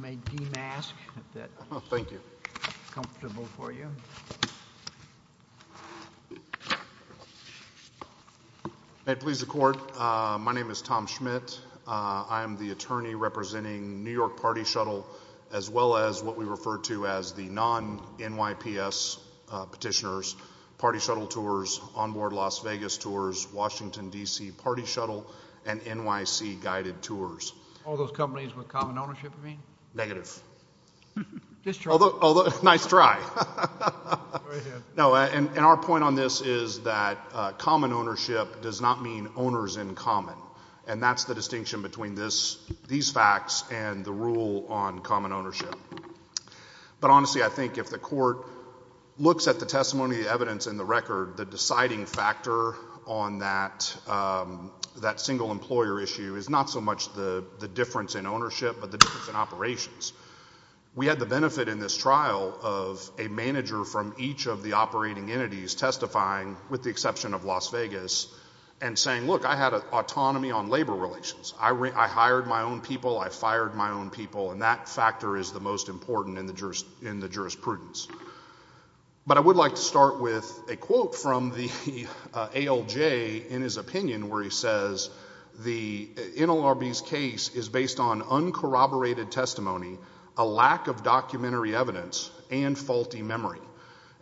May it please the court, my name is Tom Schmidt. I am the attorney representing New York Party Shuttle as well as what we refer to as the non-NYPS petitioners. Party Shuttle tours, onboard Las Vegas tours, Washington DC Party Shuttle and NYC guided tours. All those companies with common ownership you mean? Negative. Nice try. Our point on this is that common ownership does not mean owners in common and that's the distinction between these facts and the rule on common ownership. But honestly I think if the court looks at the testimony, the evidence and the record, the deciding factor on that single employer issue is not so much the difference in ownership but the difference in operations. We had the benefit in this trial of a manager from each of the operating entities testifying with the exception of Las Vegas and saying look I had autonomy on labor relations. I hired my own people, I fired my own people and that factor is the most important in the jurisprudence. But I would like to start with a quote from the ALJ in his opinion where he says the NLRB's case is based on uncorroborated testimony, a lack of documentary evidence and faulty memory.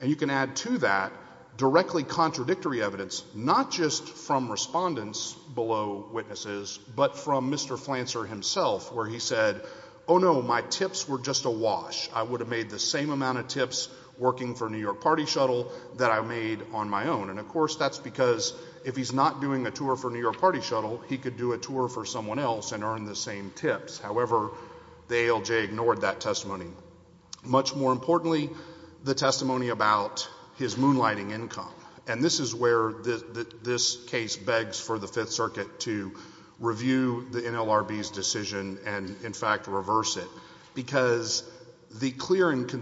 And you can add to that directly contradictory evidence not just from respondents below witnesses but from Mr. Flancer himself where he said oh no my tips were just a wash. I would have made the same amount of tips working for New York Party Shuttle that I made on my own. And of course that's because if he's not doing a tour for New York Party Shuttle he could do a tour for someone else and earn the same tips. However, the ALJ ignored that testimony. Much more importantly the testimony about his moonlighting income. And this is where this case begs for the Fifth Circuit to review the NLRB's decision and in fact reverse it. Because the clear and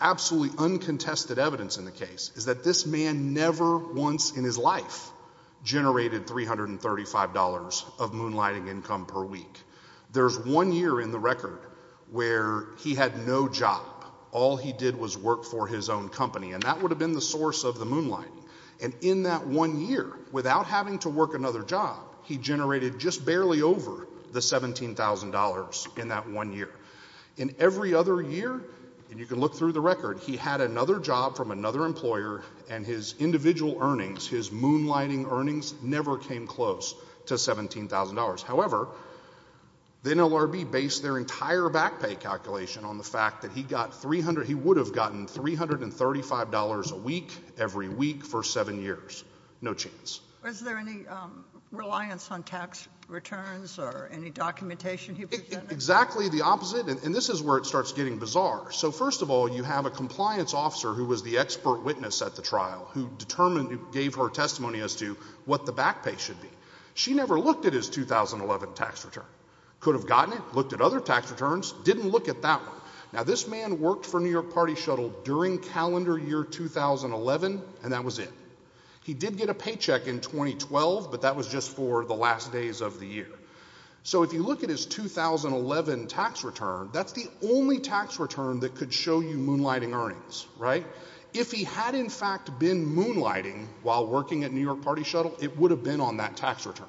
absolutely uncontested evidence in the case is that this man never once in his life generated $335 of moonlighting income per week. There's one year in the record where he had no job. All he did was work for his own company. And that would have been the source of the moonlighting. And in that one year without having to work another job he generated just barely over the $17,000 in that one year. In every other year, and you can look through the record, he had another job from another employer and his individual earnings, his moonlighting earnings never came close to $17,000. However, the NLRB based their entire back pay calculation on the fact that he got $300, he would have gotten $335 a week every week for seven years. No chance. Was there any reliance on tax returns or any documentation he presented? Exactly the opposite. And this is where it starts getting bizarre. So first of all, you have a compliance officer who was the expert witness at the trial who gave her testimony as to what the back pay should be. She never looked at his 2011 tax return. Could have gotten it, looked at other tax returns, didn't look at that one. Now, this man worked for New York Party Shuttle during calendar year 2011, and that was it. He did get a paycheck in 2012, but that was just for the last days of the year. So if you look at his 2011 tax return, that's the only tax return that could show you moonlighting earnings, right? If he had in fact been moonlighting while working at New York Party Shuttle, it would have been on that tax return.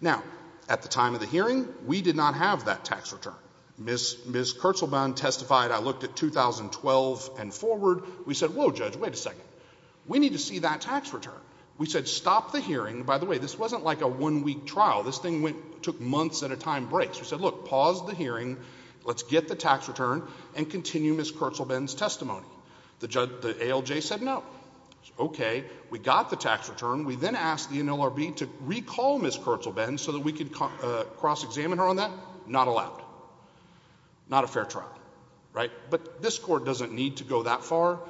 Now, at the time of the hearing, we did not have that tax return. Ms. Kurtzelbehn testified. I looked at 2012 and forward. We said, whoa, Judge, wait a second. We need to see that tax return. We said stop the hearing. By the way, this wasn't like a one-week trial. This thing took months at a time break. So we said, look, pause the hearing, let's get the tax return, and continue Ms. Kurtzelbehn's testimony. The ALJ said no. Okay, we got the tax return. We then asked the NLRB to recall Ms. Kurtzelbehn so that we could cross-examine her on that. Not allowed. Not a fair trial, right? But this court doesn't need to go that far.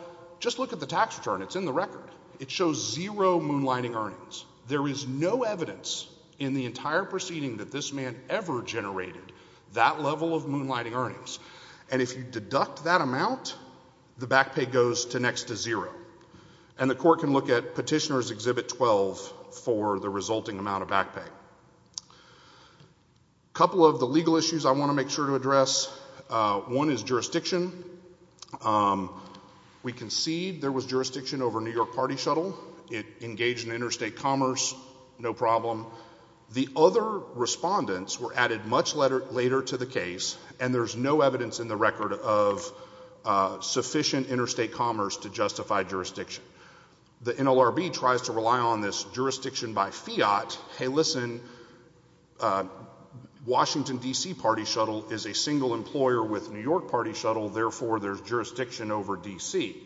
Just look at the tax return. It's in the record. It shows zero moonlighting earnings. There is no evidence in the entire proceeding that this man ever generated that level of moonlighting earnings. And if you deduct that amount, the back pay goes to next to zero. And the court can look at Petitioner's Exhibit 12 for the resulting amount of back pay. All right. A couple of the legal issues I want to make sure to address. One is jurisdiction. We concede there was jurisdiction over New York Party Shuttle. It engaged in interstate commerce, no problem. The other respondents were added much later to the case, and there's no evidence in the record of sufficient interstate commerce to justify jurisdiction. The NLRB tries to rely on this jurisdiction by fiat. Hey, listen, Washington, D.C. Party Shuttle is a single employer with New York Party Shuttle, therefore there's jurisdiction over D.C.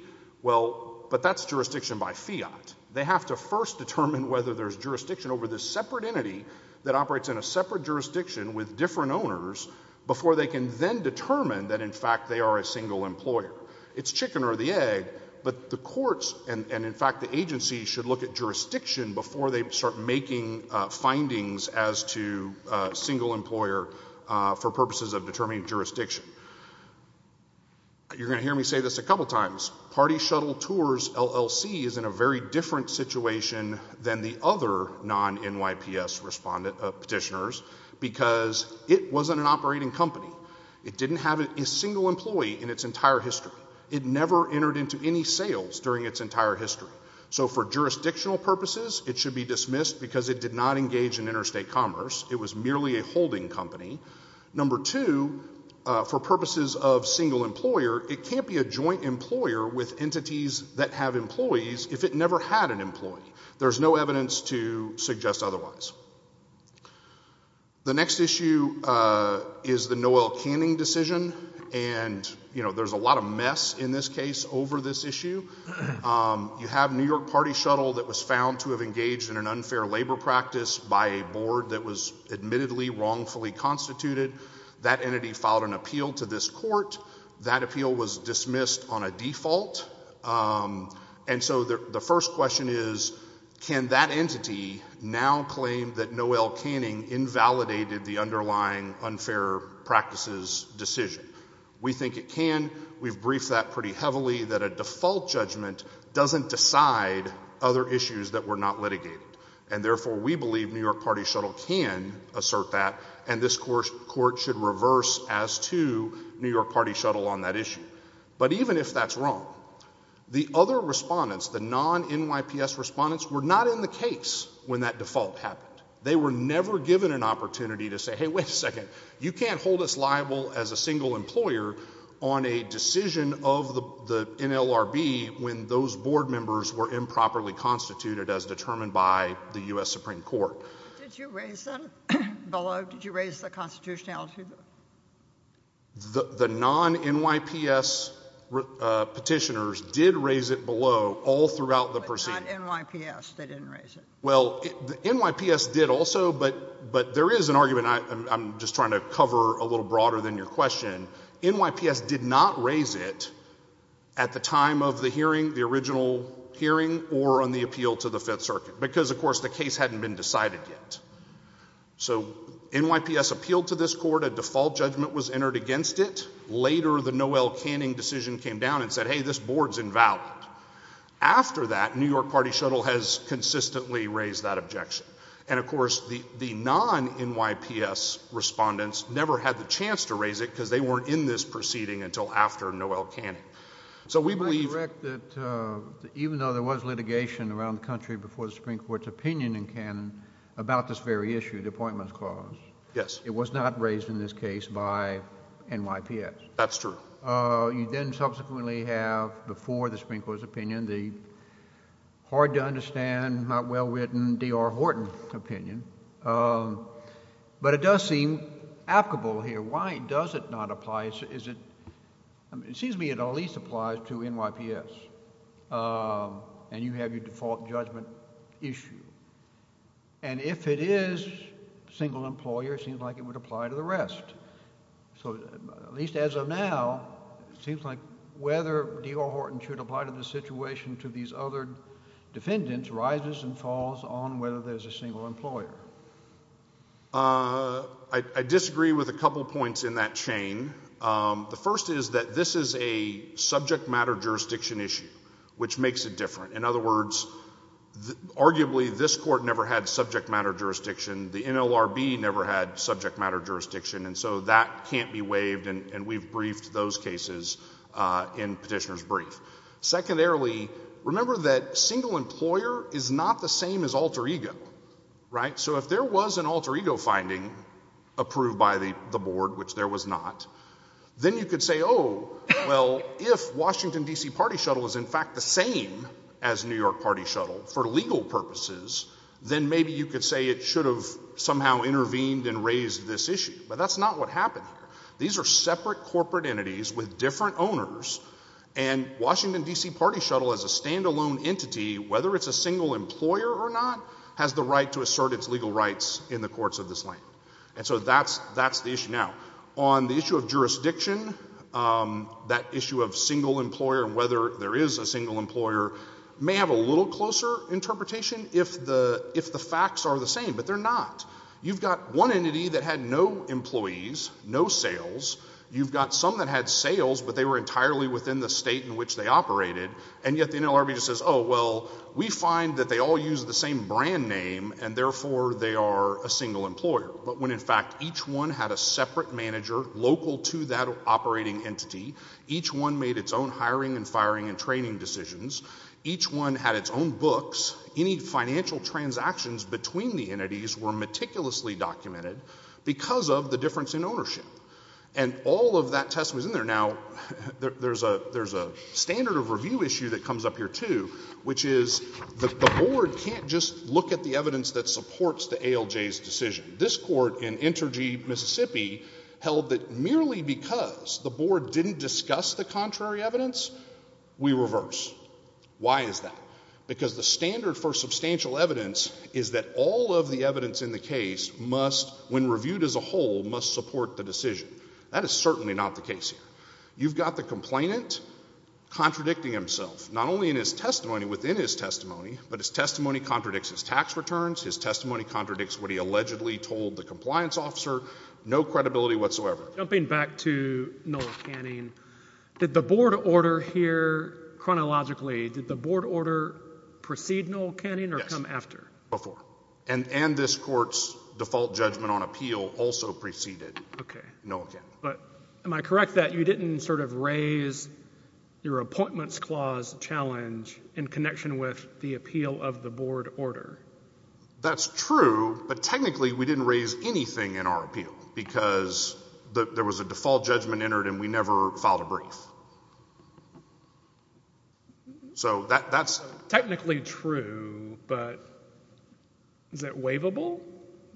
Well, but that's jurisdiction by fiat. They have to first determine whether there's jurisdiction over this separate entity that operates in a separate jurisdiction with different owners before they can then determine that, in fact, they are a single employer. It's chicken or the egg, but the courts and, in fact, the agency should look at jurisdiction before they start making findings as to single employer for purposes of determining jurisdiction. You're going to hear me say this a couple times. Party Shuttle Tours LLC is in a very different situation than the other non-NYPS petitioners because it wasn't an operating company. It didn't have a single employee in its entire history. It never entered into any sales during its entire history. So for jurisdictional purposes, it should be dismissed because it did not engage in interstate commerce. It was merely a holding company. Number two, for purposes of single employer, it can't be a joint employer with entities that have employees if it never had an employee. There's no evidence to suggest otherwise. The next issue is the Noel Canning decision, and there's a lot of mess in this case over this issue. You have New York Party Shuttle that was found to have engaged in an unfair labor practice by a board that was admittedly wrongfully constituted. That entity filed an appeal to this court. That appeal was dismissed on a default. And so the first question is, can that entity now claim that Noel Canning invalidated the underlying unfair practices decision? We think it can. We've briefed that pretty heavily, that a default judgment doesn't decide other issues that were not litigated. And therefore, we believe New York Party Shuttle can assert that, and this court should reverse as to New York Party Shuttle on that issue. But even if that's wrong, the other respondents, the non-NYPS respondents, were not in the case when that default happened. They were never given an opportunity to say, hey, wait a second, you can't hold us liable as a single employer on a decision of the NLRB when those board members were improperly constituted as determined by the U.S. Supreme Court. Did you raise them below? Did you raise the constitutionality? The non-NYPS petitioners did raise it below all throughout the proceeding. But not NYPS. They didn't raise it. Well, NYPS did also, but there is an argument, and I'm just trying to cover a little broader than your question. NYPS did not raise it at the time of the hearing, the original hearing, or on the appeal to the Fifth Circuit, because, of course, the case hadn't been decided yet. So NYPS appealed to this court, a default judgment was entered against it. Later, the Noel Canning decision came down and said, hey, this board's invalid. After that, New York Party Shuttle has consistently raised that objection. And, of course, the non-NYPS respondents never had the chance to raise it because they weren't in this proceeding until after Noel Canning. So we believe— Can I correct that even though there was litigation around the country before the Supreme Court's opinion in Canning about this very issue, the Appointments Clause— Yes. —it was not raised in this case by NYPS? That's true. You then subsequently have, before the Supreme Court's opinion, the hard-to-understand, not well-written D.R. Horton opinion. But it does seem applicable here. Why does it not apply? It seems to me it at least applies to NYPS, and you have your default judgment issue. And if it is single employer, it seems like it would apply to the rest. So at least as of now, it seems like whether D.R. Horton should apply to this situation to these other defendants rises and falls on whether there's a single employer. I disagree with a couple points in that chain. The first is that this is a subject matter jurisdiction issue, which makes it different. In other words, arguably this Court never had subject matter jurisdiction. The NLRB never had subject matter jurisdiction, and so that can't be waived, and we've briefed those cases in Petitioner's Brief. Secondarily, remember that single employer is not the same as alter ego, right? So if there was an alter ego finding approved by the Board, which there was not, then you could say, oh, well, if Washington, D.C. Party Shuttle is in fact the same as New York Party Shuttle for legal purposes, then maybe you could say it should have somehow intervened and raised this issue. But that's not what happened here. These are separate corporate entities with different owners, and Washington, D.C. Party Shuttle as a standalone entity, whether it's a single employer or not, has the right to assert its legal rights in the courts of this land. And so that's the issue. Now, on the issue of jurisdiction, that issue of single employer and whether there is a single employer may have a little closer interpretation if the facts are the same, but they're not. You've got one entity that had no employees, no sales. You've got some that had sales, but they were entirely within the state in which they operated, and yet the NLRB just says, oh, well, we find that they all use the same brand name, and therefore they are a single employer. But when in fact each one had a separate manager local to that operating entity, each one made its own hiring and firing and training decisions, each one had its own books, any financial transactions between the entities were meticulously documented because of the difference in ownership. And all of that test was in there. Now, there's a standard of review issue that comes up here, too, which is the board can't just look at the evidence that supports the ALJ's decision. This court in Intergy, Mississippi held that merely because the board didn't discuss the contrary evidence, we reverse. Why is that? Because the standard for substantial evidence is that all of the evidence in the case must, when reviewed as a whole, must support the decision. That is certainly not the case here. You've got the complainant contradicting himself, not only in his testimony, within his testimony, but his testimony contradicts his tax returns, his testimony contradicts what he allegedly told the compliance officer, no credibility whatsoever. Jumping back to Noel Canning, did the board order here chronologically, did the board order precede Noel Canning or come after? Yes, before. And this court's default judgment on appeal also preceded Noel Canning. Okay, but am I correct that you didn't sort of raise your appointments clause challenge in connection with the appeal of the board order? That's true, but technically we didn't raise anything in our appeal because there was a default judgment entered and we never filed a brief. So that's technically true, but is it waivable?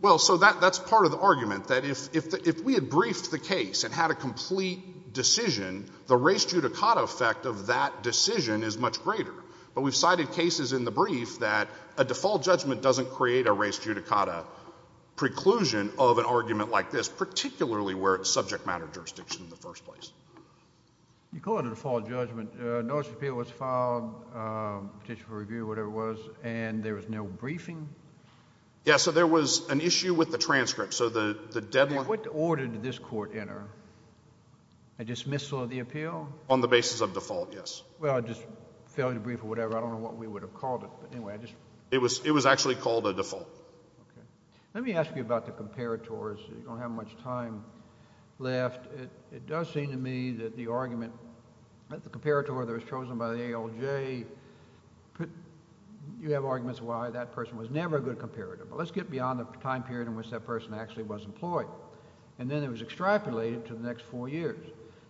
Well, so that's part of the argument, that if we had briefed the case and had a complete decision, the res judicata effect of that decision is much greater. But we've cited cases in the brief that a default judgment doesn't create a res judicata preclusion of an argument like this, particularly where it's subject matter jurisdiction in the first place. You call it a default judgment, notice of appeal was filed, petition for review, whatever it was, and there was no briefing? Yeah, so there was an issue with the transcript, so the deadline... What order did this court enter? A dismissal of the appeal? On the basis of default, yes. Well, just failure to brief or whatever, I don't know what we would have called it, but anyway, I just... It was actually called a default. Let me ask you about the comparators. You don't have much time left. It does seem to me that the argument, that the comparator that was chosen by the ALJ, you have arguments why that person was never a good comparator. But let's get beyond the time period in which that person actually was employed. And then it was extrapolated to the next four years.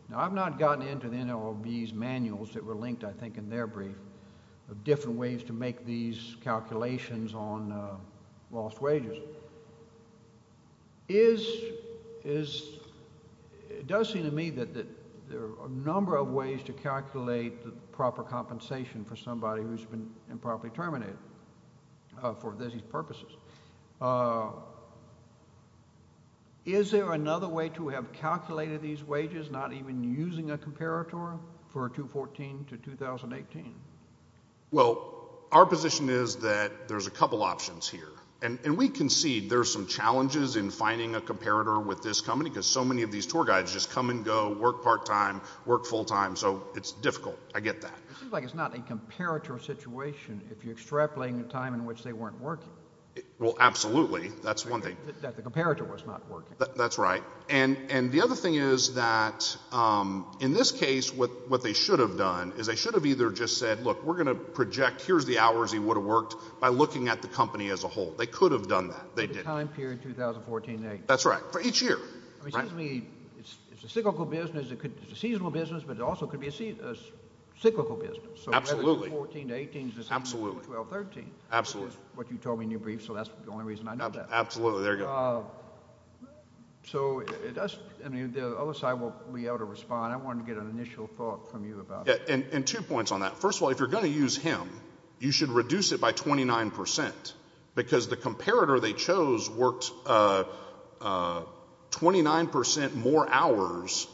Now, I've not gotten into the NLRB's manuals that were linked, I think, in their brief of different ways to make these calculations on lost wages. It does seem to me that there are a number of ways to calculate the proper compensation for somebody who's been improperly terminated for these purposes. Is there another way to have calculated these wages, not even using a comparator, for 2014 to 2018? Well, our position is that there's a couple options here. And we concede there are some challenges in finding a comparator with this company, because so many of these tour guides just come and go, work part-time, work full-time. So, it's difficult. I get that. It seems like it's not a comparator situation if you're extrapolating a time in which they weren't working. Well, absolutely. That's one thing. That the comparator was not working. That's right. And the other thing is that, in this case, what they should have done is they should have either just said, look, we're going to project here's the hours he would have worked by looking at the company as a whole. They could have done that. They didn't. The time period, 2014 to 2018. That's right. For each year. It seems to me it's a cyclical business. It's a seasonal business, but it also could be a cyclical business. Absolutely. Absolutely. What you told me in your brief, so that's the only reason I know that. Absolutely. There you go. So, the other side won't be able to respond. I wanted to get an initial thought from you about it. And two points on that. First of all, if you're going to use him, you should reduce it by 29%, because the comparator they chose worked 29% more hours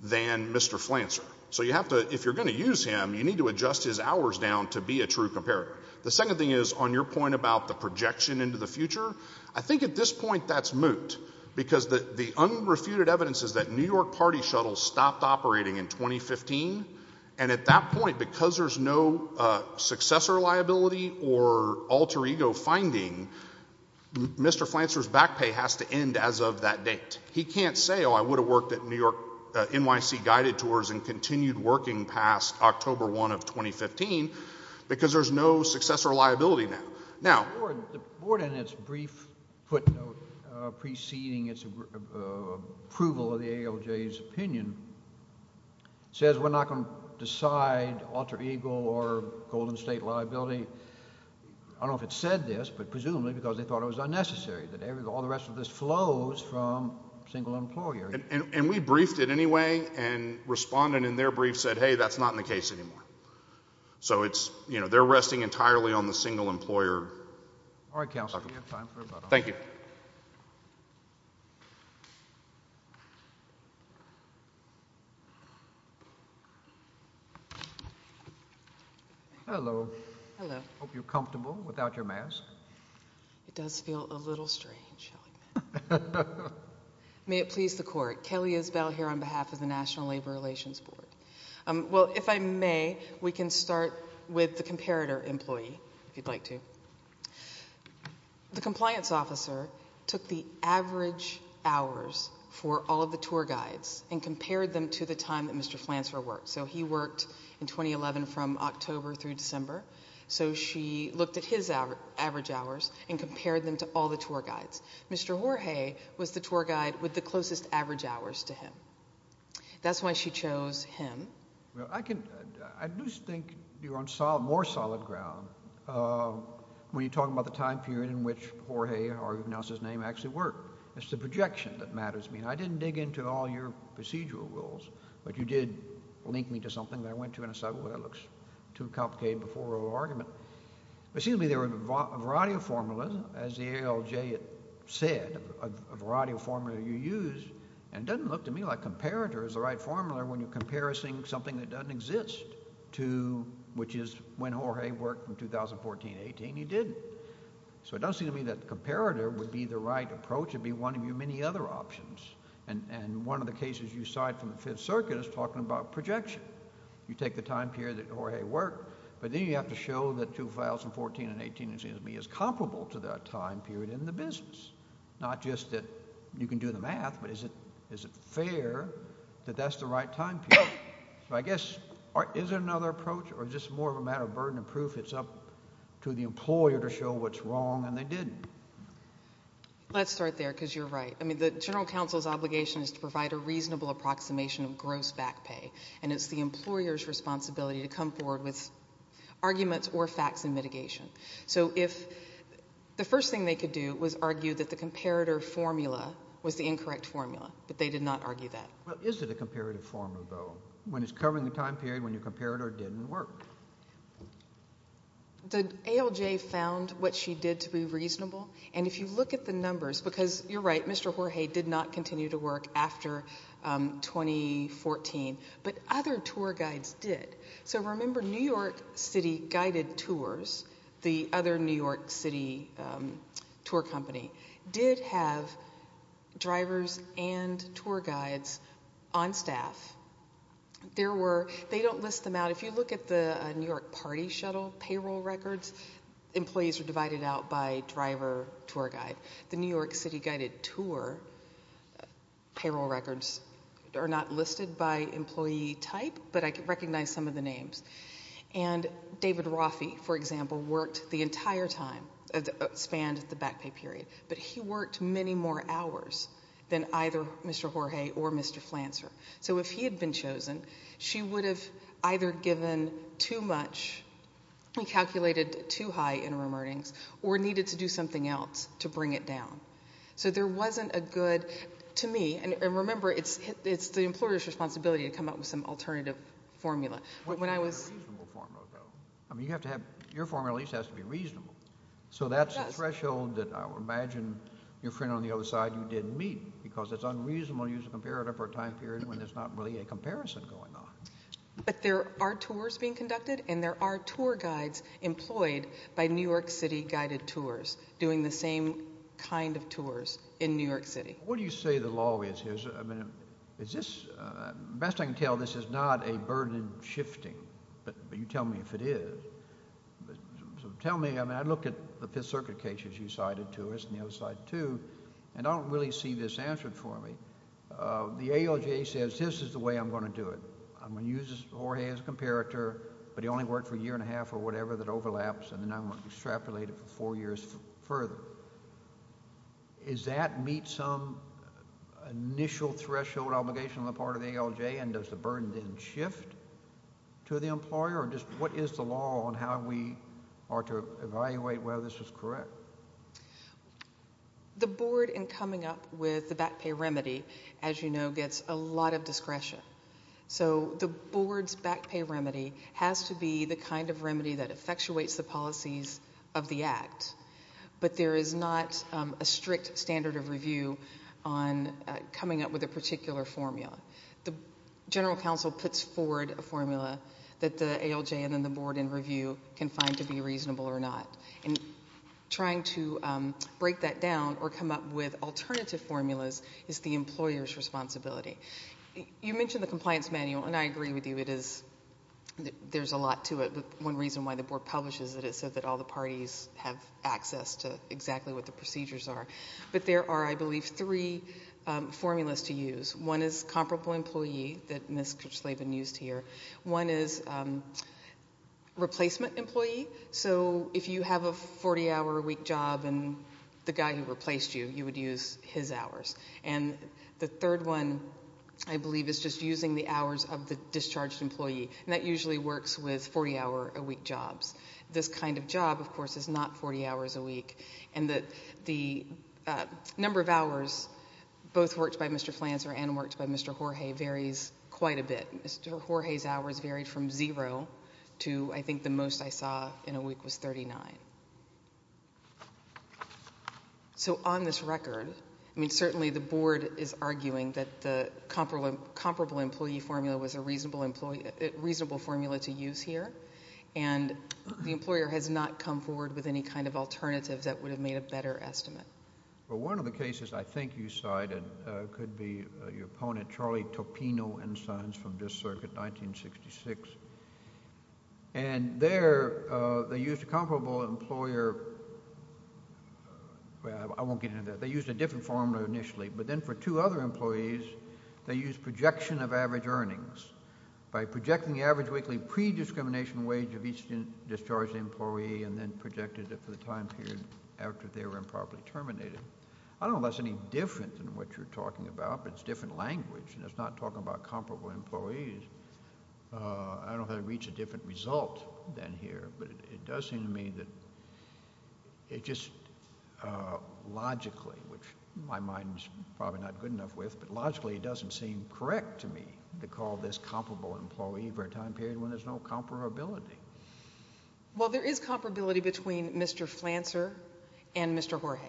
than Mr. Flancer. So, if you're going to use him, you need to adjust his hours down to be a true comparator. The second thing is, on your point about the projection into the future, I think at this point that's moot. Because the unrefuted evidence is that New York Party Shuttle stopped operating in 2015. And at that point, because there's no successor liability or alter ego finding, Mr. Flancer's back pay has to end as of that date. He can't say, oh, I would have worked at NYC Guided Tours and continued working past October 1 of 2015, because there's no successor liability now. The board, in its brief footnote preceding its approval of the ALJ's opinion, says we're not going to decide alter ego or Golden State liability. I don't know if it said this, but presumably because they thought it was unnecessary. All the rest of this flows from single employer. And we briefed it anyway, and respondent in their brief said, hey, that's not in the case anymore. So it's, you know, they're resting entirely on the single employer. All right, counsel, we have time for about a minute. Thank you. Hello. Hello. Hope you're comfortable without your mask. It does feel a little strange. May it please the court. Kelly Isbell here on behalf of the National Labor Relations Board. Well, if I may, we can start with the comparator employee, if you'd like to. The compliance officer took the average hours for all of the tour guides and compared them to the time that Mr. Flanser worked. So he worked in 2011 from October through December. So she looked at his average hours and compared them to all the tour guides. Mr. Jorge was the tour guide with the closest average hours to him. That's why she chose him. Well, I do think you're on more solid ground when you're talking about the time period in which Jorge, however you pronounce his name, actually worked. It's the projection that matters to me. And I didn't dig into all your procedural rules, but you did link me to something that I went to in a subject that looks too complicated before a little argument. It seems to me there were a variety of formulas, as the ALJ said, a variety of formula you used. And it doesn't look to me like comparator is the right formula when you're comparing something that doesn't exist, which is when Jorge worked in 2014-18, he didn't. So it doesn't seem to me that comparator would be the right approach. It would be one of your many other options. And one of the cases you cite from the Fifth Circuit is talking about projection. You take the time period that Jorge worked, but then you have to show that 2014-18, it seems to me, is comparable to that time period in the business. Not just that you can do the math, but is it fair that that's the right time period? So I guess is there another approach or is this more of a matter of burden of proof? It's up to the employer to show what's wrong, and they didn't. Let's start there because you're right. I mean the general counsel's obligation is to provide a reasonable approximation of gross back pay, and it's the employer's responsibility to come forward with arguments or facts in mitigation. So if the first thing they could do was argue that the comparator formula was the incorrect formula, but they did not argue that. Well, is it a comparative formula, though, when it's covering the time period when your comparator didn't work? The ALJ found what she did to be reasonable, and if you look at the numbers, because you're right, Mr. Jorge did not continue to work after 2014, but other tour guides did. So remember New York City Guided Tours, the other New York City tour company, did have drivers and tour guides on staff. They don't list them out. If you look at the New York Party Shuttle payroll records, employees were divided out by driver, tour guide. The New York City Guided Tour payroll records are not listed by employee type, but I recognize some of the names. And David Roffey, for example, worked the entire time, spanned the back pay period, but he worked many more hours than either Mr. Jorge or Mr. Flancer. So if he had been chosen, she would have either given too much, calculated too high interim earnings, or needed to do something else to bring it down. So there wasn't a good, to me, and remember it's the employer's responsibility to come up with some alternative formula. You have to have a reasonable formula, though. I mean, you have to have, your formula at least has to be reasonable. So that's a threshold that I would imagine your friend on the other side, you didn't meet, because it's unreasonable to use a comparator for a time period when there's not really a comparison going on. But there are tours being conducted, and there are tour guides employed by New York City Guided Tours doing the same kind of tours in New York City. What do you say the law is here? I mean, is this, best I can tell, this is not a burden shifting, but you tell me if it is. So tell me, I mean, I look at the Fifth Circuit cases you cited to us and the other side too, and I don't really see this answered for me. The AOGA says this is the way I'm going to do it. I'm going to use Jorge as a comparator, but he only worked for a year and a half or whatever that overlaps, and then I'm going to extrapolate it for four years further. Does that meet some initial threshold obligation on the part of the ALJ, and does the burden then shift to the employer, or just what is the law on how we are to evaluate whether this is correct? The board in coming up with the back pay remedy, as you know, gets a lot of discretion. So the board's back pay remedy has to be the kind of remedy that effectuates the policies of the act, but there is not a strict standard of review on coming up with a particular formula. The general counsel puts forward a formula that the ALJ and then the board in review can find to be reasonable or not, and trying to break that down or come up with alternative formulas is the employer's responsibility. You mentioned the compliance manual, and I agree with you. There's a lot to it. One reason why the board publishes it is so that all the parties have access to exactly what the procedures are. But there are, I believe, three formulas to use. One is comparable employee that Ms. Kurchlaven used here. One is replacement employee. So if you have a 40-hour-a-week job and the guy who replaced you, you would use his hours. And the third one, I believe, is just using the hours of the discharged employee, and that usually works with 40-hour-a-week jobs. This kind of job, of course, is not 40 hours a week, and the number of hours both worked by Mr. Flanser and worked by Mr. Jorge varies quite a bit. Mr. Jorge's hours varied from zero to I think the most I saw in a week was 39. So on this record, I mean, certainly the board is arguing that the comparable employee formula was a reasonable formula to use here, and the employer has not come forward with any kind of alternative that would have made a better estimate. Well, one of the cases I think you cited could be your opponent, Charlie Topino and sons from this circuit, 1966. And there they used a comparable employer. I won't get into that. They used a different formula initially, but then for two other employees, they used projection of average earnings. By projecting the average weekly pre-discrimination wage of each discharged employee and then projected it for the time period after they were improperly terminated. I don't know if that's any different than what you're talking about, but it's different language, and it's not talking about comparable employees. I don't know how to reach a different result than here, but it does seem to me that it just logically, which my mind is probably not good enough with, but logically it doesn't seem correct to me to call this comparable employee for a time period when there's no comparability. Well, there is comparability between Mr. Flanser and Mr. Jorge.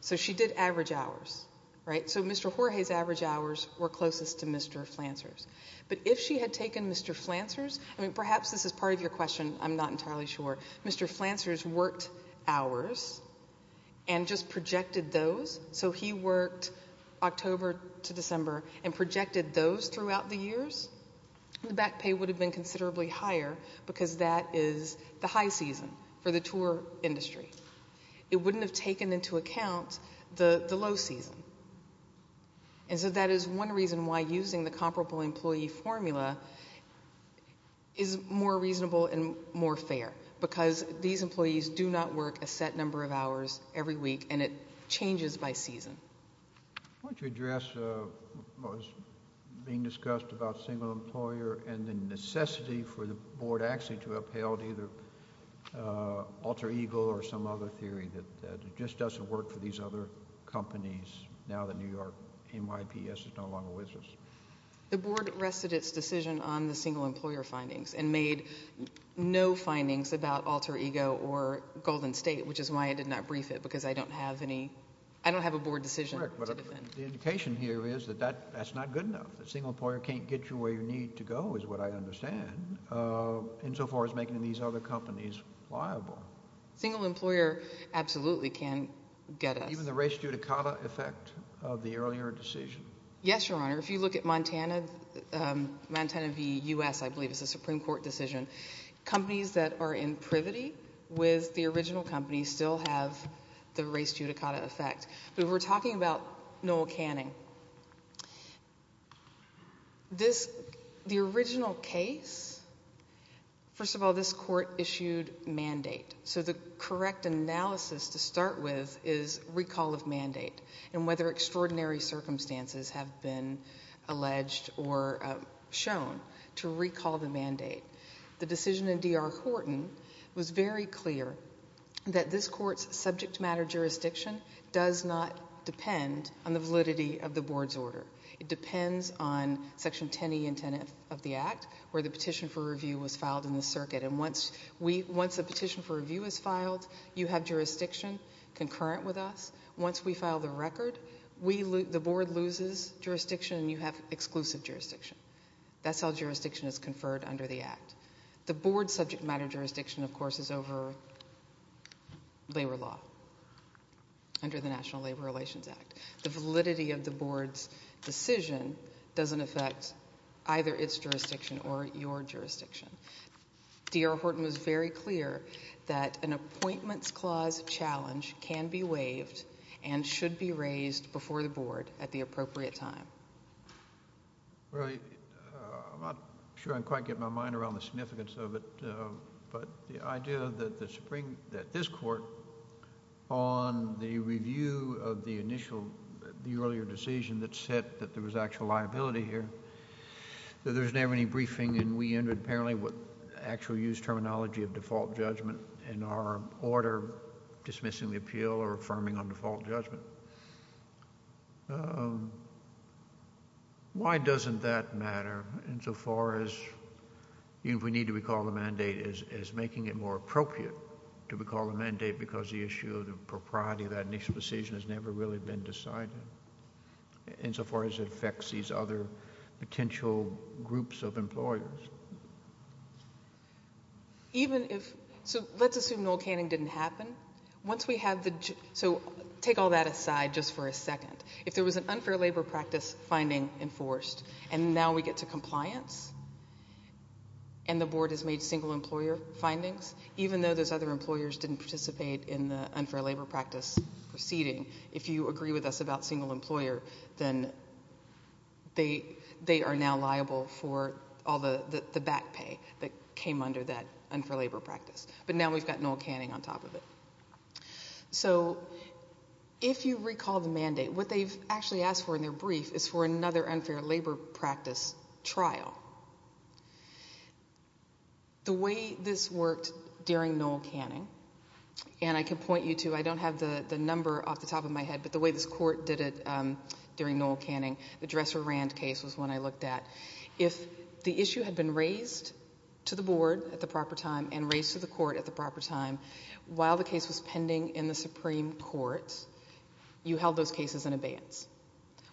So she did average hours, right? So Mr. Jorge's average hours were closest to Mr. Flanser's. But if she had taken Mr. Flanser's, perhaps this is part of your question, I'm not entirely sure, Mr. Flanser's worked hours and just projected those, so he worked October to December and projected those throughout the years, the back pay would have been considerably higher because that is the high season for the tour industry. It wouldn't have taken into account the low season. And so that is one reason why using the comparable employee formula is more reasonable and more fair, because these employees do not work a set number of hours every week, and it changes by season. Why don't you address what was being discussed about single employer and the necessity for the board actually to have upheld either alter ego or some other theory that it just doesn't work for these other companies now that New York NYPS is no longer with us? The board rested its decision on the single employer findings and made no findings about alter ego or Golden State, which is why I did not brief it because I don't have a board decision to defend. The indication here is that that's not good enough, that single employer can't get you where you need to go is what I understand, insofar as making these other companies liable. Single employer absolutely can get us. Even the res judicata effect of the earlier decision? Yes, Your Honor. If you look at Montana v. U.S., I believe it's a Supreme Court decision, companies that are in privity with the original company still have the res judicata effect. But if we're talking about Noel Canning, the original case, first of all, this court issued mandate. So the correct analysis to start with is recall of mandate and whether extraordinary circumstances have been alleged or shown to recall the mandate. The decision in D.R. Horton was very clear that this court's subject matter jurisdiction does not depend on the validity of the board's order. It depends on Section 10E and 10F of the Act where the petition for review was filed in the circuit. And once a petition for review is filed, you have jurisdiction concurrent with us. Once we file the record, the board loses jurisdiction and you have exclusive jurisdiction. That's how jurisdiction is conferred under the Act. The board's subject matter jurisdiction, of course, is over labor law under the National Labor Relations Act. The validity of the board's decision doesn't affect either its jurisdiction or your jurisdiction. D.R. Horton was very clear that an appointments clause challenge can be waived and should be raised before the board at the appropriate time. Well, I'm not sure I can quite get my mind around the significance of it, but the idea that this court, on the review of the earlier decision that said that there was actual liability here, that there was never any briefing and we ended apparently with actual use terminology of default judgment and our order dismissing the appeal or affirming on default judgment. Why doesn't that matter insofar as we need to recall the mandate as making it more appropriate to recall the mandate because the issue of the propriety of that initial decision has never really been decided insofar as it affects these other potential groups of employers? Let's assume Noel Canning didn't happen. Take all that aside just for a second. If there was an unfair labor practice finding enforced and now we get to compliance and the board has made single employer findings, even though those other employers didn't participate in the unfair labor practice proceeding, if you agree with us about single employer, then they are now liable for all the back pay that came under that unfair labor practice. But now we've got Noel Canning on top of it. So if you recall the mandate, what they've actually asked for in their brief is for another unfair labor practice trial. The way this worked during Noel Canning, and I can point you to, I don't have the number off the top of my head, but the way this court did it during Noel Canning, the Dresser-Rand case was one I looked at. If the issue had been raised to the board at the proper time and raised to the court at the proper time while the case was pending in the Supreme Court, you held those cases in abeyance.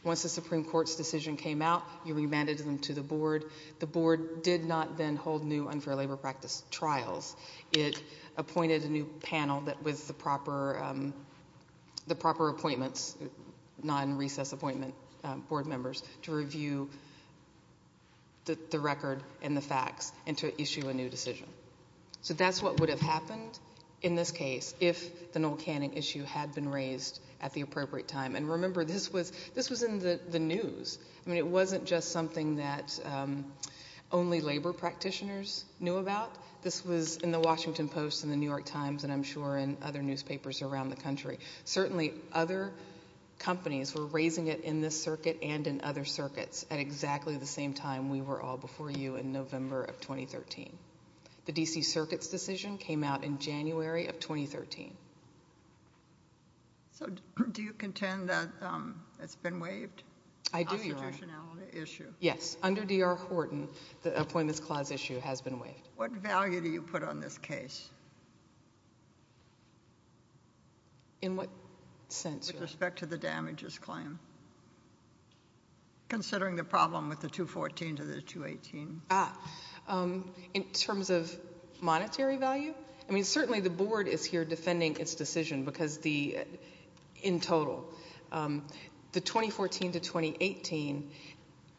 Once the Supreme Court's decision came out, you remanded them to the board. The board did not then hold new unfair labor practice trials. It appointed a new panel with the proper appointments, non-recess appointment board members, to review the record and the facts and to issue a new decision. So that's what would have happened in this case if the Noel Canning issue had been raised at the appropriate time. And remember this was in the news. I mean it wasn't just something that only labor practitioners knew about. This was in the Washington Post and the New York Times and I'm sure in other newspapers around the country. Certainly other companies were raising it in this circuit and in other circuits at exactly the same time we were all before you in November of 2013. The D.C. Circuit's decision came out in January of 2013. So do you contend that it's been waived? I do, Your Honor. The constitutionality issue? Yes. Under D.R. Horton, the appointments clause issue has been waived. What value do you put on this case? In what sense, Your Honor? With respect to the damages claim, considering the problem with the 214 to the 218. In terms of monetary value? I mean certainly the board is here defending its decision because the in total, the 2014 to 2018,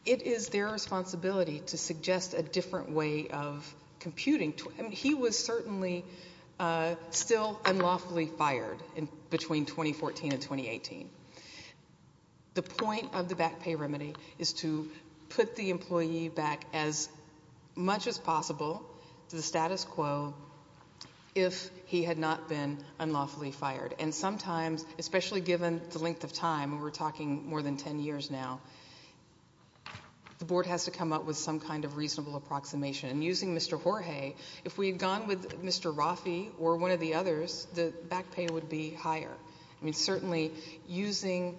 it is their responsibility to suggest a different way of computing. He was certainly still unlawfully fired between 2014 and 2018. The point of the back pay remedy is to put the employee back as much as possible to the status quo if he had not been unlawfully fired. And sometimes, especially given the length of time, we're talking more than 10 years now, the board has to come up with some kind of reasonable approximation. And using Mr. Jorge, if we had gone with Mr. Rafi or one of the others, the back pay would be higher. I mean certainly using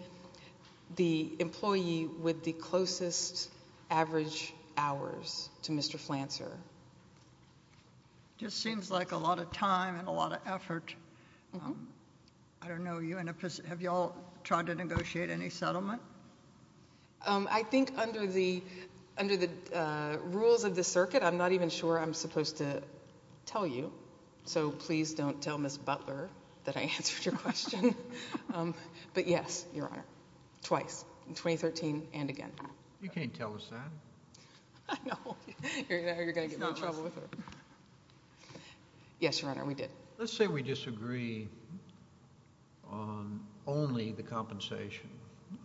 the employee with the closest average hours to Mr. Flancer. It just seems like a lot of time and a lot of effort. I don't know. Have you all tried to negotiate any settlement? I think under the rules of the circuit, I'm not even sure I'm supposed to tell you. So please don't tell Ms. Butler that I answered your question. But yes, Your Honor, twice, in 2013 and again. You can't tell us that. I know. You're going to get me in trouble with her. Yes, Your Honor, we did. Let's say we disagree on only the compensation,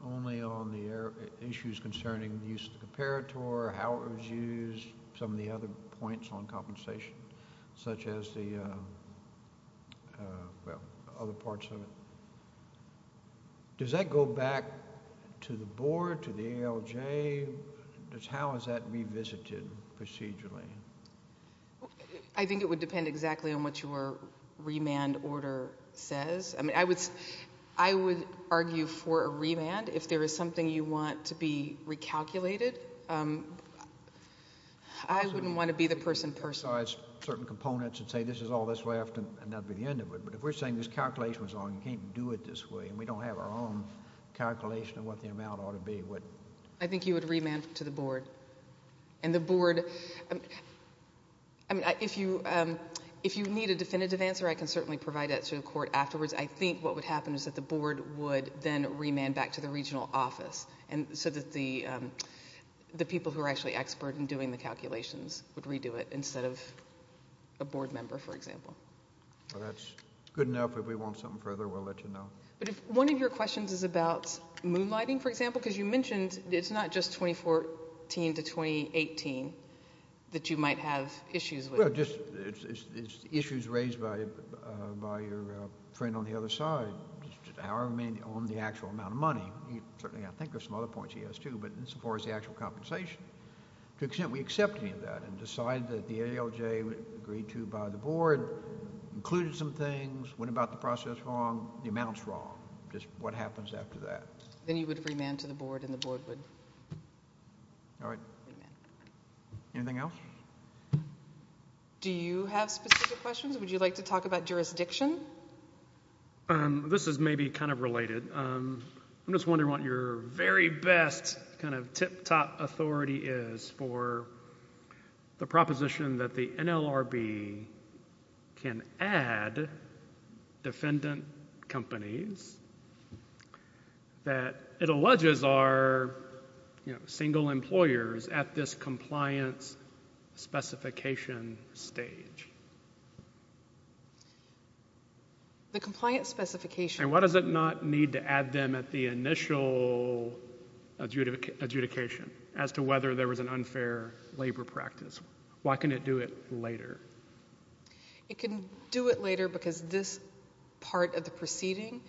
only on the issues concerning the use of the comparator, how it was used, some of the other points on compensation, such as the other parts of it. Does that go back to the board, to the ALJ? How is that revisited procedurally? I think it would depend exactly on what your remand order says. I would argue for a remand if there is something you want to be recalculated. I wouldn't want to be the person person. So it's certain components that say this is all that's left and that would be the end of it. But if we're saying this calculation was wrong, you can't do it this way, and we don't have our own calculation of what the amount ought to be. If you need a definitive answer, I can certainly provide that to the court afterwards. I think what would happen is that the board would then remand back to the regional office so that the people who are actually expert in doing the calculations would redo it instead of a board member, for example. That's good enough. If we want something further, we'll let you know. But if one of your questions is about moonlighting, for example, because you mentioned it's not just 2014 to 2018 that you might have issues with. Well, it's issues raised by your friend on the other side, however many on the actual amount of money. Certainly I think there's some other points he has, too, but as far as the actual compensation, to the extent we accept any of that and decide that the ALJ agreed to by the board, included some things, went about the process wrong, the amount's wrong, just what happens after that. Then you would remand to the board and the board would remand. Anything else? Do you have specific questions? Would you like to talk about jurisdiction? This is maybe kind of related. I'm just wondering what your very best kind of tip-top authority is for the proposition that the NLRB can add defendant companies, that it alleges are single employers at this compliance specification stage. The compliance specification. And why does it not need to add them at the initial adjudication as to whether there was an unfair labor practice? Why can't it do it later? It can do it later because this part of the proceeding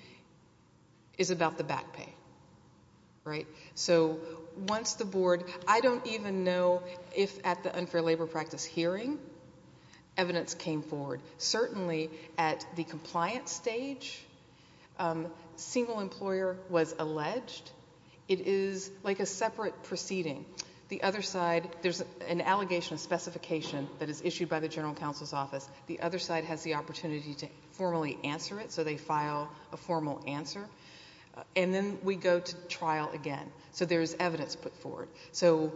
is about the back pay, right? So once the board, I don't even know if at the unfair labor practice hearing evidence came forward. Certainly at the compliance stage, single employer was alleged. It is like a separate proceeding. The other side, there's an allegation of specification that is issued by the general counsel's office. The other side has the opportunity to formally answer it, so they file a formal answer. And then we go to trial again. So there's evidence put forward. So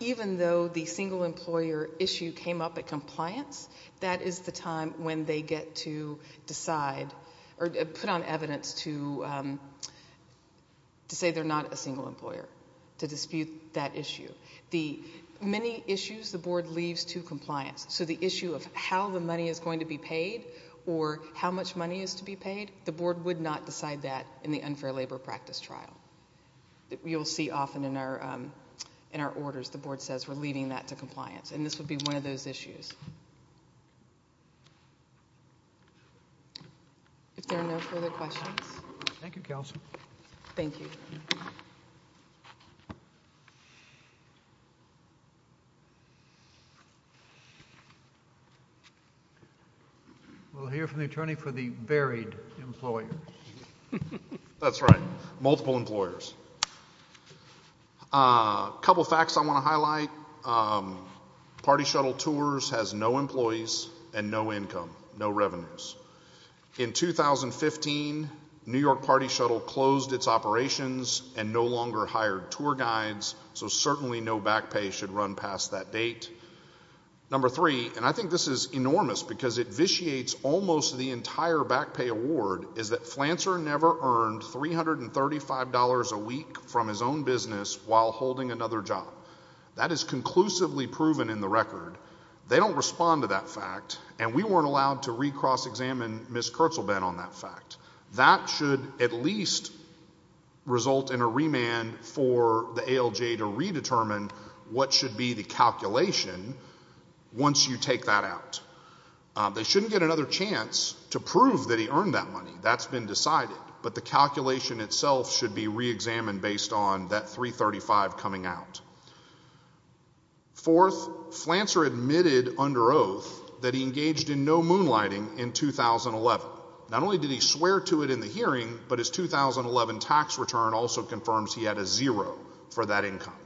even though the single employer issue came up at compliance, that is the time when they get to decide or put on evidence to say they're not a single employer, to dispute that issue. The many issues the board leaves to compliance, so the issue of how the money is going to be paid or how much money is to be paid, the board would not decide that in the unfair labor practice trial. You'll see often in our orders, the board says we're leaving that to compliance, and this would be one of those issues. If there are no further questions. Thank you, Kelsey. Thank you. We'll hear from the attorney for the buried employer. That's right. Multiple employers. A couple facts I want to highlight. Party Shuttle Tours has no employees and no income, no revenues. In 2015, New York Party Shuttle closed its operations and no longer hired tour guides, so certainly no back pay should run past that date. Number three, and I think this is enormous because it vitiates almost the entire back pay award, is that Flancer never earned $335 a week from his own business while holding another job. That is conclusively proven in the record. They don't respond to that fact, and we weren't allowed to re-cross-examine Ms. Kurtzelbehn on that fact. That should at least result in a remand for the ALJ to redetermine what should be the calculation once you take that out. They shouldn't get another chance to prove that he earned that money. That's been decided, but the calculation itself should be re-examined based on that $335 coming out. Fourth, Flancer admitted under oath that he engaged in no moonlighting in 2011. Not only did he swear to it in the hearing, but his 2011 tax return also confirms he had a zero for that income.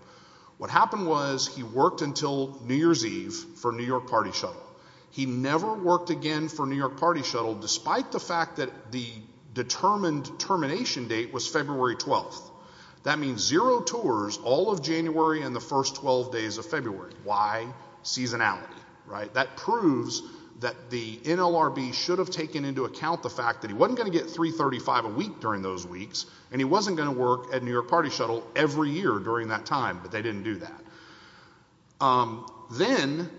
What happened was he worked until New Year's Eve for New York Party Shuttle. He never worked again for New York Party Shuttle despite the fact that the determined termination date was February 12th. That means zero tours all of January and the first 12 days of February. Why? Seasonality. That proves that the NLRB should have taken into account the fact that he wasn't going to get $335 a week during those weeks, and he wasn't going to work at New York Party Shuttle every year during that time, but they didn't do that. Then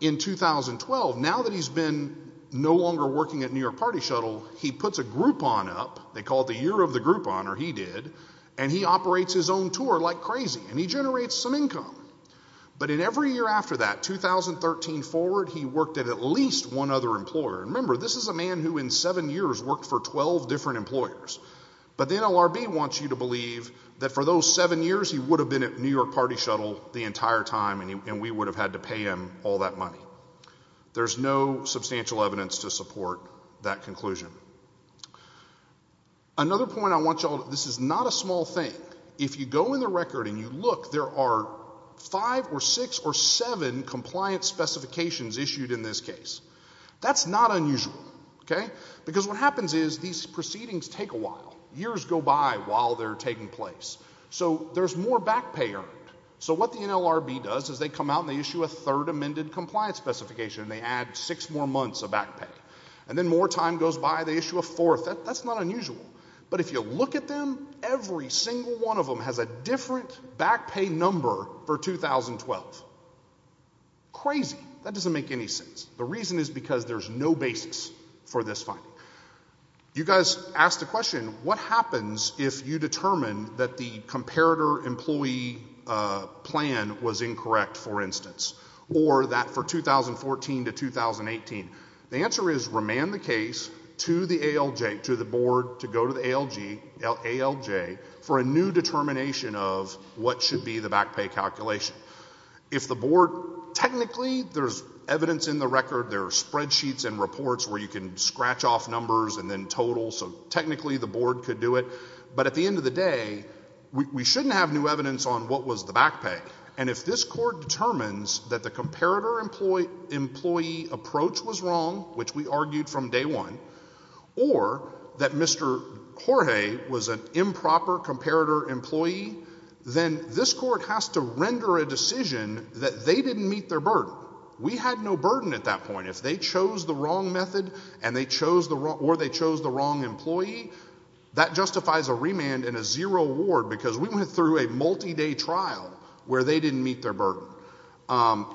in 2012, now that he's been no longer working at New York Party Shuttle, he puts a Groupon up. They call it the Year of the Groupon, or he did, and he operates his own tour like crazy, and he generates some income. But in every year after that, 2013 forward, he worked at at least one other employer. Remember, this is a man who in seven years worked for 12 different employers. But the NLRB wants you to believe that for those seven years he would have been at New York Party Shuttle the entire time, and we would have had to pay him all that money. There's no substantial evidence to support that conclusion. Another point I want you all to know, this is not a small thing. If you go in the record and you look, there are five or six or seven compliance specifications issued in this case. That's not unusual. Because what happens is these proceedings take a while. Years go by while they're taking place. So there's more back pay earned. So what the NLRB does is they come out and they issue a third amended compliance specification, and they add six more months of back pay. And then more time goes by, they issue a fourth. That's not unusual. But if you look at them, every single one of them has a different back pay number for 2012. Crazy. That doesn't make any sense. The reason is because there's no basis for this finding. You guys asked the question, what happens if you determine that the comparator employee plan was incorrect, for instance, or that for 2014 to 2018? The answer is remand the case to the ALJ, to the board to go to the ALJ, for a new determination of what should be the back pay calculation. If the board technically, there's evidence in the record, there are spreadsheets and reports where you can scratch off numbers and then totals, so technically the board could do it. But at the end of the day, we shouldn't have new evidence on what was the back pay. And if this court determines that the comparator employee approach was wrong, which we argued from day one, or that Mr. Jorge was an improper comparator employee, then this court has to render a decision that they didn't meet their burden. We had no burden at that point. If they chose the wrong method or they chose the wrong employee, that justifies a remand and a zero award because we went through a multi-day trial where they didn't meet their burden.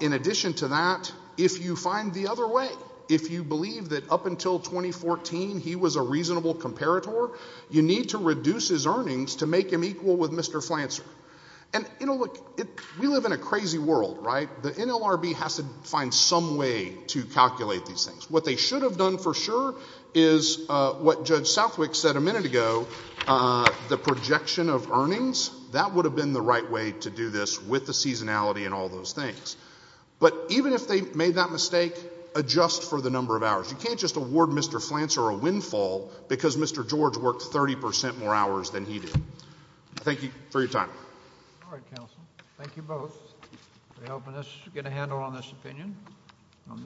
In addition to that, if you find the other way, if you believe that up until 2014 he was a reasonable comparator, you need to reduce his earnings to make him equal with Mr. Flancer. And we live in a crazy world, right? The NLRB has to find some way to calculate these things. What they should have done for sure is what Judge Southwick said a minute ago, the projection of earnings. That would have been the right way to do this with the seasonality and all those things. But even if they made that mistake, adjust for the number of hours. You can't just award Mr. Flancer a windfall because Mr. Jorge worked 30 percent more hours than he did. Thank you for your time. All right, counsel. Thank you both for helping us get a handle on this opinion.